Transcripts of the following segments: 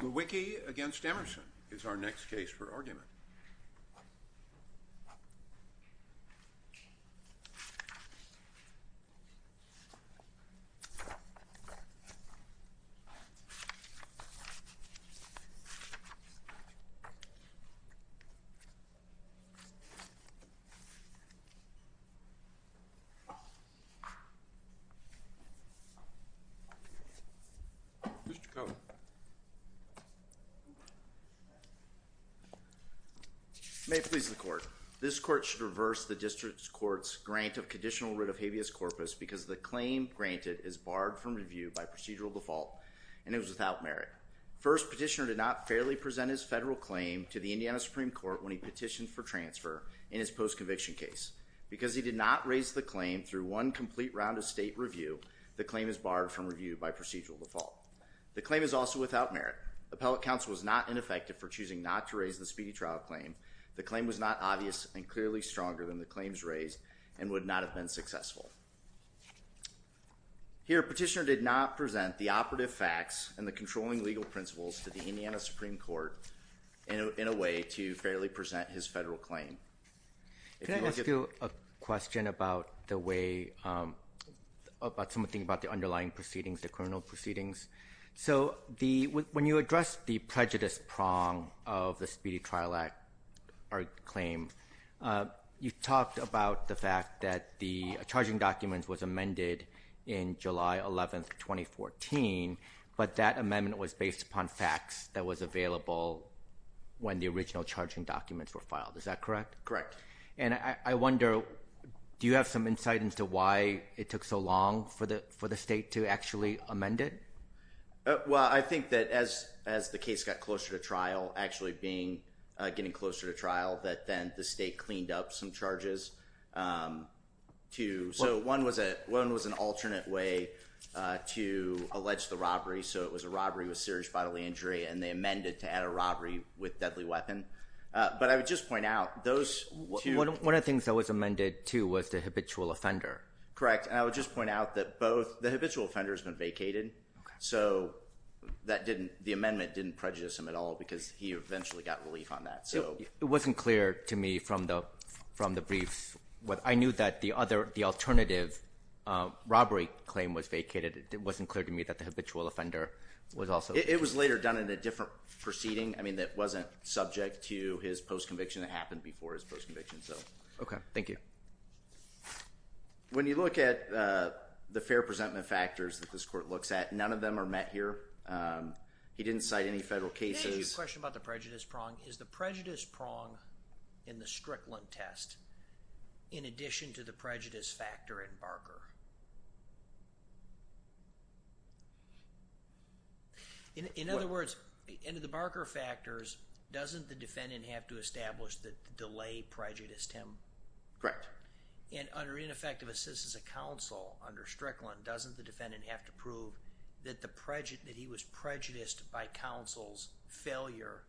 Lewicki v. Emerson is our next case for argument. Mr. Cohen. May it please the court. This court should reverse the district's court's grant of conditional writ of habeas corpus because the claim granted is barred from review by procedural default and it was without merit. First, petitioner did not fairly present his federal claim to the Indiana Supreme Court when he petitioned for transfer in his post-conviction case. Because he did not raise the claim through one complete round of state review, the claim is also without merit. Appellate counsel was not ineffective for choosing not to raise the speedy trial claim. The claim was not obvious and clearly stronger than the claims raised and would not have been successful. Here, petitioner did not present the operative facts and the controlling legal principles to the Indiana Supreme Court in a way to fairly present his federal claim. Can I ask you a question about the way about something about the underlying proceedings, the when you address the prejudice prong of the Speedy Trial Act claim, you talked about the fact that the charging documents was amended in July 11th, 2014 but that amendment was based upon facts that was available when the original charging documents were filed. Is that correct? Correct. And I wonder, do you have some insight into why it took so long for the for the state to actually amend it? Well, I think that as as the case got closer to trial, actually being getting closer to trial, that then the state cleaned up some charges too. So one was a one was an alternate way to allege the robbery. So it was a robbery with serious bodily injury and they amended to add a robbery with deadly weapon. But I would just point out those... One of the things that was amended too was the habitual offender. Correct. And I would just point out that both the habitual offenders been vacated. So that didn't, the amendment didn't prejudice him at all because he eventually got relief on that. So it wasn't clear to me from the from the briefs what I knew that the other, the alternative robbery claim was vacated. It wasn't clear to me that the habitual offender was also... It was later done in a different proceeding. I mean that wasn't subject to his post conviction that happened before his post conviction. So okay, thank you. When you look at the fair presentment factors that this court looks at, none of them are met here. He didn't cite any federal cases. Can I ask you a question about the prejudice prong? Is the prejudice prong in the Strickland test in addition to the prejudice factor in Barker? In other words, in the Barker factors, doesn't the defendant have to as a counsel under Strickland, doesn't the defendant have to prove that the prejudice, that he was prejudiced by counsel's failure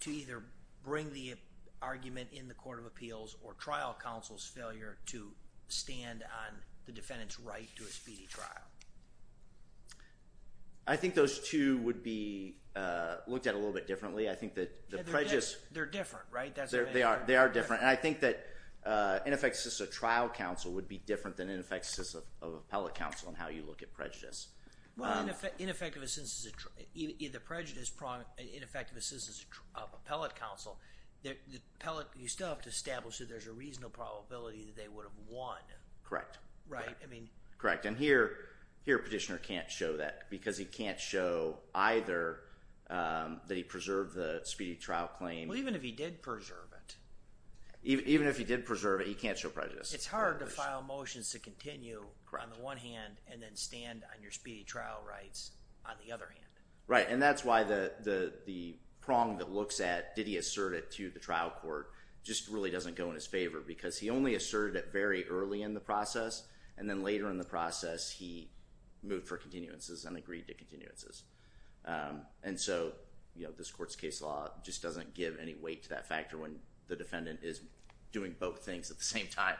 to either bring the argument in the Court of Appeals or trial counsel's failure to stand on the defendant's right to a speedy trial? I think those two would be looked at a little bit differently. I think that the prejudice... They're different, right? They are, they are different. And I think that in effect, just a trial counsel would be different than in effect, just a appellate counsel on how you look at prejudice. Well, in effect, in effect, in the prejudice prong, in effect of a citizen's appellate counsel, the appellate, you still have to establish that there's a reasonable probability that they would have won. Correct. Right, I mean. Correct. And here, here petitioner can't show that because he can't show either that he preserved the speedy trial claim. Well, even if he did preserve it. Even if he did preserve it, he can't show prejudice. It's hard to file motions to continue on the one hand and then stand on your speedy trial rights on the other hand. Right, and that's why the prong that looks at, did he assert it to the trial court, just really doesn't go in his favor because he only asserted it very early in the process and then later in the process he moved for continuances and agreed to continuances. And so, you know, this court's case law just doesn't give any weight to that factor when the defendant is doing both things at the same time.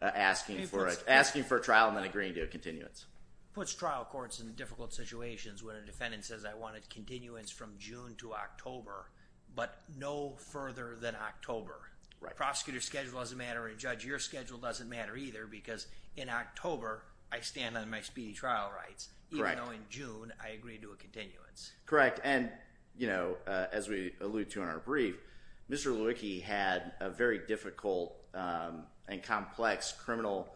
Asking for a, asking for a trial and then agreeing to a continuance. Puts trial courts in difficult situations when a defendant says I wanted continuance from June to October, but no further than October. Right. Prosecutor's schedule doesn't matter and judge your schedule doesn't matter either because in October I stand on my speedy trial rights. Correct. Even though in June I allude to in our brief, Mr. Lewicki had a very difficult and complex criminal,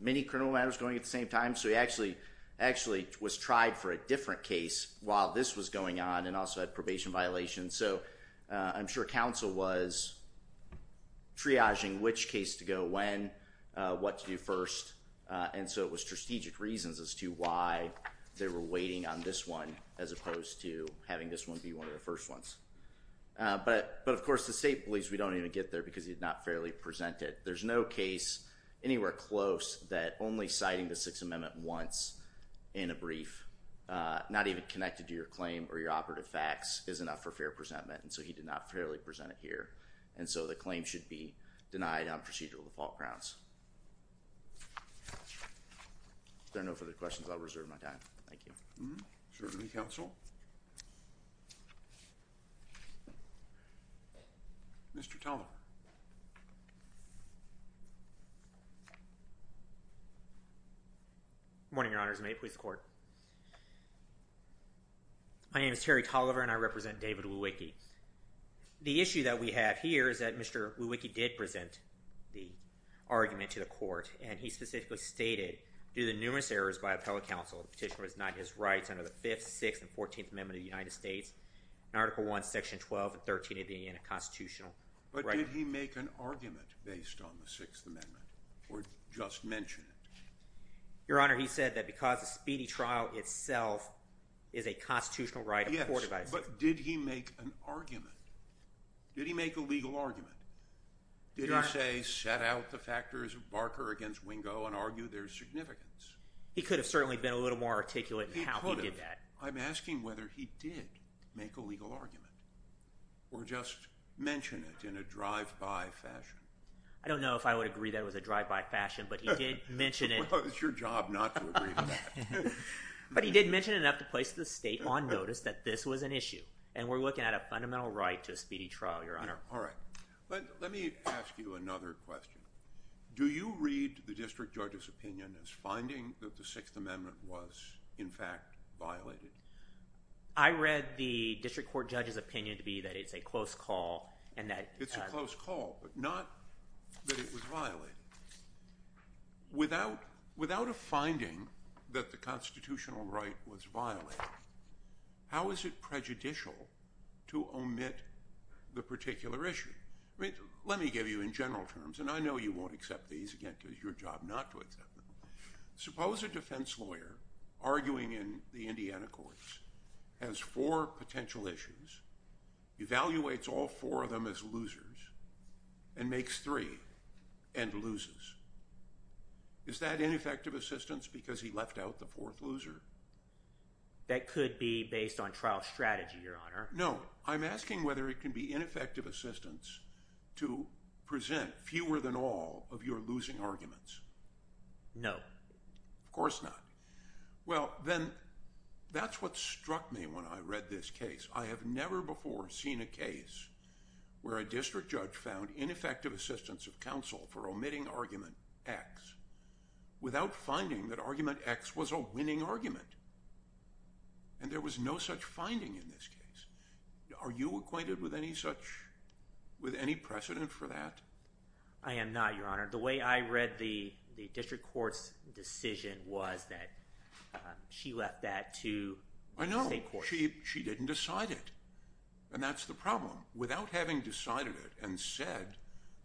many criminal matters going at the same time, so he actually, actually was tried for a different case while this was going on and also had probation violations. So I'm sure counsel was triaging which case to go when, what to do first, and so it was strategic reasons as to why they were waiting on this one as opposed to having this one be one of the first ones. But, but of course the state believes we don't even get there because he did not fairly present it. There's no case anywhere close that only citing the Sixth Amendment once in a brief, not even connected to your claim or your operative facts, is enough for fair presentment and so he did not fairly present it here. And so the claim should be denied on procedural default grounds. If there are no further questions I'll open it up to counsel. Mr. Tolliver. Good morning, Your Honors. May it please the court. My name is Terry Tolliver and I represent David Lewicki. The issue that we have here is that Mr. Lewicki did present the argument to the court and he specifically stated, due to numerous errors by appellate counsel, the petitioner was denied his rights under the 5th, 6th, and 14th Amendment of the United States in Article 1, Section 12, and 13 of the Indiana Constitution. But did he make an argument based on the Sixth Amendment or just mention it? Your Honor, he said that because the speedy trial itself is a constitutional right afforded by the State. Yes, but did he make an argument? Did he make a legal argument? Did he say, set out the factors of Barker against Wingo and he could have certainly been a little more articulate in how he did that. I'm asking whether he did make a legal argument or just mention it in a drive-by fashion. I don't know if I would agree that was a drive-by fashion, but he did mention it. It's your job not to agree to that. But he did mention it enough to place the state on notice that this was an issue and we're looking at a fundamental right to a speedy trial, Your Honor. All right, but let me ask you another question. Do you read the district judge's opinion as the Sixth Amendment was in fact violated? I read the district court judge's opinion to be that it's a close call and that... It's a close call, but not that it was violated. Without a finding that the constitutional right was violated, how is it prejudicial to omit the particular issue? I mean, let me give you in general terms, and I know you won't accept these again because it's your job not to accept them. Suppose a defense lawyer arguing in the Indiana courts has four potential issues, evaluates all four of them as losers, and makes three and loses. Is that ineffective assistance because he left out the fourth loser? That could be based on trial strategy, Your Honor. No, I'm asking whether it can be ineffective assistance to present fewer than all of your losing arguments. No. Of course not. Well, then that's what struck me when I read this case. I have never before seen a case where a district judge found ineffective assistance of counsel for omitting argument X without finding that argument X was a winning argument, and with any precedent for that? I am not, Your Honor. The way I read the district court's decision was that she left that to the state court. I know. She didn't decide it, and that's the problem. Without having decided it and said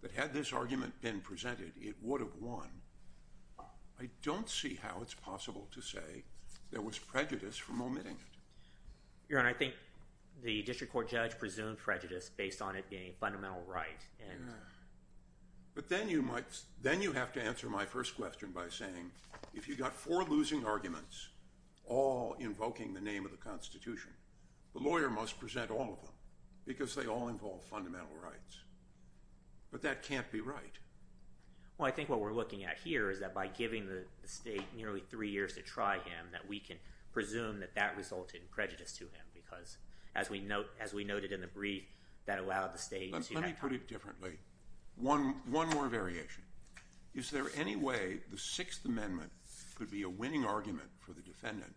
that had this argument been presented, it would have won, I don't see how it's possible to say there was prejudice from omitting it. Your Honor, I think the district court judge presumed prejudice based on it being a fundamental right. But then you have to answer my first question by saying if you got four losing arguments all invoking the name of the Constitution, the lawyer must present all of them because they all involve fundamental rights. But that can't be right. Well, I think what we're looking at here is that by giving the state nearly three years to try him that we can presume that that resulted in prejudice to him because as we noted in the brief that allowed the state... Let me put it differently. One more variation. Is there any way the Sixth Amendment could be a winning argument for the defendant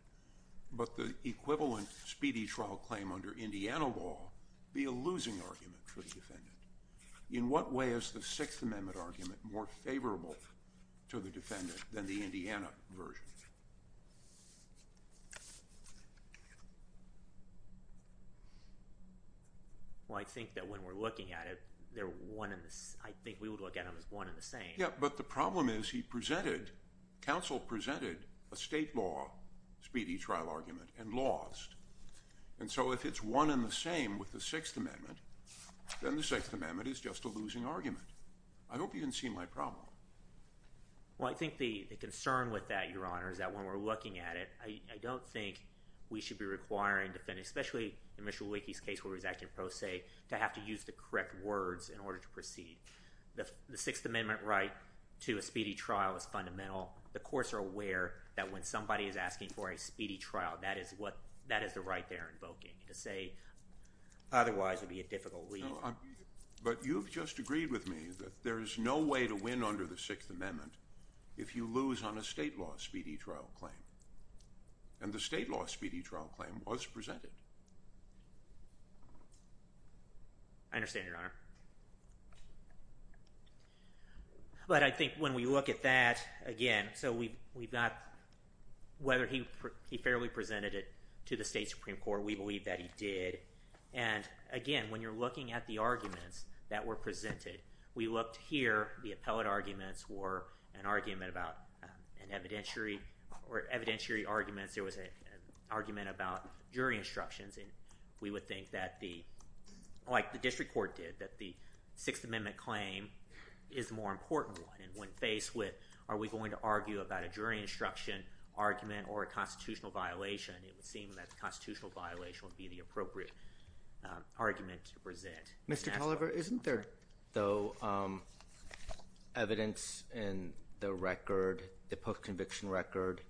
but the equivalent speedy trial claim under Indiana law be a losing argument for the defendant? In what way is the Sixth Amendment argument more favorable to the defendant than the speedy trial argument? Well, I think that when we're looking at it, they're one in the... I think we would look at them as one in the same. Yeah, but the problem is he presented, counsel presented a state law speedy trial argument and lost. And so if it's one in the same with the Sixth Amendment, then the Sixth Amendment is just a losing argument. I hope you can see my problem. Well, I think the concern with that, Your Honor, is that when we're looking at it, I don't think we should be requiring the defendant, especially in Mr. Leakey's case where he was acting pro se, to have to use the correct words in order to proceed. The Sixth Amendment right to a speedy trial is fundamental. The courts are aware that when somebody is asking for a speedy trial, that is what, that is the right they're invoking. To say otherwise would be a difficult lead. But you've just agreed with me that there is no way to win under the Sixth Amendment if you lose on a state law speedy trial claim. And the state law speedy trial claim was presented. I understand, Your Honor. But I think when we look at that again, so we we've got whether he fairly presented it to the state Supreme Court, we believe that he did. And again, when you're looking at the arguments that were presented, we looked here, the evidentiary arguments, there was an argument about jury instructions. And we would think that the, like the district court did, that the Sixth Amendment claim is more important one. And when faced with are we going to argue about a jury instruction argument or a constitutional violation, it would seem that the constitutional violation would be the appropriate argument to present. Mr. Tolliver, isn't there though evidence in the record, the post-conviction record,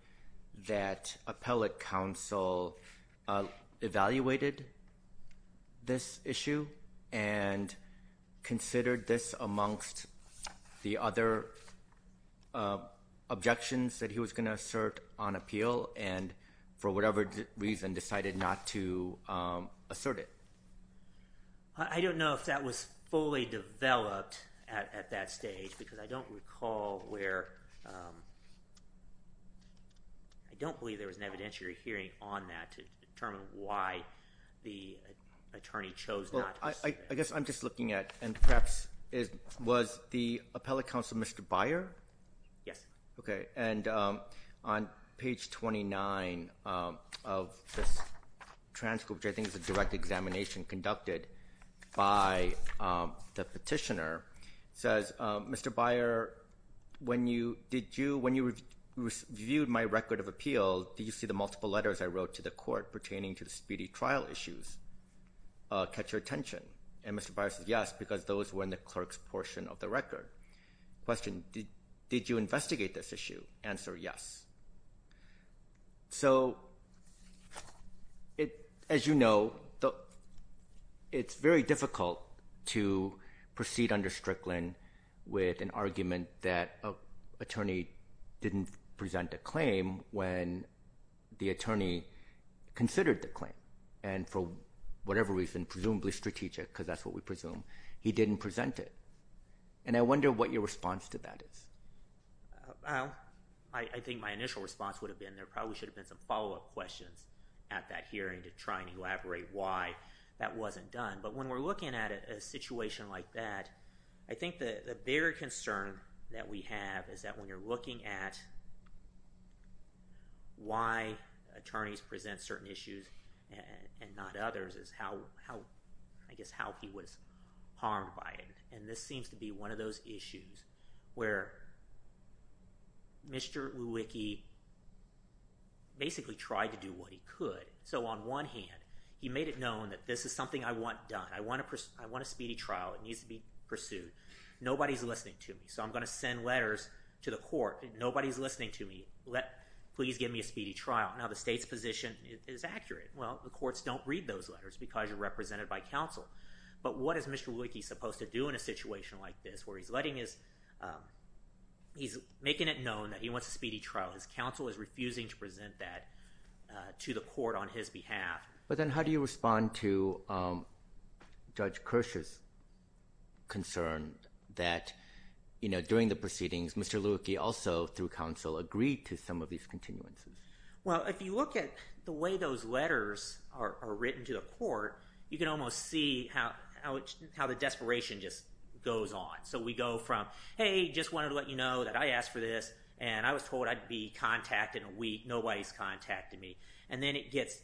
that appellate counsel evaluated this issue and considered this amongst the other objections that he was going to assert on appeal and for whatever reason decided not to assert it? I don't know if that was fully developed at that stage because I don't recall where, I don't believe there was an evidentiary hearing on that to determine why the attorney chose not. I guess I'm just looking at and perhaps, was the appellate counsel Mr. Byer? Yes. Okay. And on page 29 of this transcript, I think it's a direct examination conducted by the petitioner, says, Mr. Byer, when you reviewed my record of appeal, did you see the multiple letters I wrote to the court pertaining to the speedy trial issues catch your attention? And Mr. Byer says, yes, because those were in the clerk's portion of the record. Question, did you investigate this issue? Answer, yes. So, as you know, it's very difficult to proceed under Strickland with an argument that an attorney didn't present a claim when the attorney considered the claim and for whatever reason, presumably strategic because that's what we presume, he didn't present it. And I wonder what your response to that is? Well, I think my initial response would have been there probably should have been some follow-up questions at that hearing to try and elaborate why that wasn't done. But when we're looking at a situation like that, I think the bigger concern that we have is that when you're looking at why attorneys present certain issues and not others is how, I guess, how he was harmed by it. And this seems to be one of those issues where Mr. Lewicki basically tried to do what he could. So, on one hand, he made it known that this is something I want done. I want a speedy trial. It needs to be pursued. Nobody's listening to me. So, I'm gonna send letters to the court. Nobody's listening to me. Please give me a speedy trial. Now, the state's position is accurate. Well, the courts don't read those letters because you're represented by counsel. But what is Mr. Lewicki supposed to do in a hearing is he's making it known that he wants a speedy trial. His counsel is refusing to present that to the court on his behalf. But then how do you respond to Judge Kirsch's concern that, you know, during the proceedings Mr. Lewicki also through counsel agreed to some of these continuances? Well, if you look at the way those letters are written to the court, you can almost see how the desperation just goes on. So, we go from, hey, just wanted to let you know that I asked for this and I was told I'd be contacted in a week. Nobody's contacted me. And then it gets,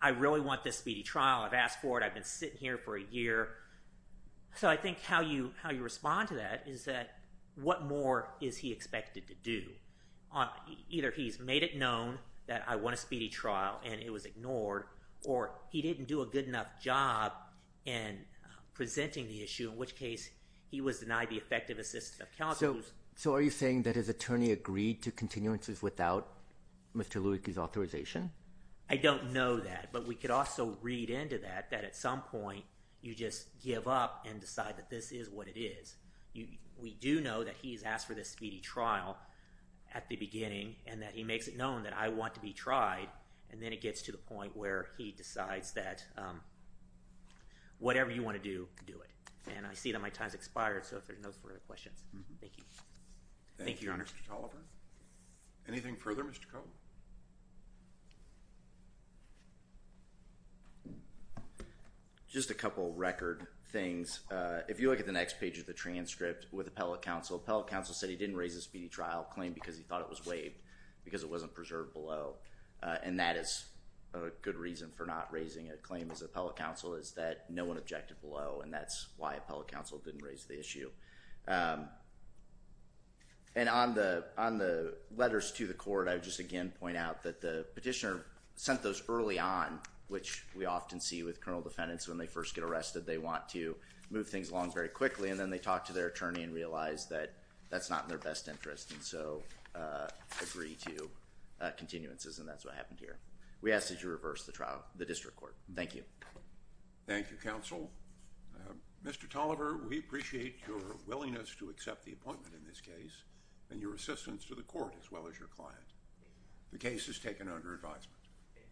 I really want this speedy trial. I've asked for it. I've been sitting here for a year. So, I think how you how you respond to that is that what more is he expected to do? Either he's made it known that I want a speedy trial at the beginning and that he makes it known that I want to be tried. And then it gets to the point where he decides that whatever you want to do, do it. And I see that my time's expired. So, if there's no further questions. Thank you. Thank you, Your Honor. Mr. Toliver. Anything further, Mr. Koh? Just a couple record things. If you look at the next page of the transcript with appellate counsel, appellate counsel said he didn't raise a speedy trial claim because he thought it was waived because it wasn't preserved below. And that is a good reason for not raising a claim as appellate counsel is that no one objected below and that's why appellate counsel didn't raise the issue. And on the on the letters to the court, I would just again point out that the petitioner sent those early on, which we often see with criminal defendants when they first get arrested. They want to move things along very quickly and then they talk to their attorney and realize that that's not in their best interest and so agree to continuances and that's what happened here. We ask that you reverse the trial, the district court. Thank you. Thank you, counsel. Mr. Toliver, we appreciate your willingness to accept the appointment in this case and your assistance to the court as well as your client. The case is taken under advisement.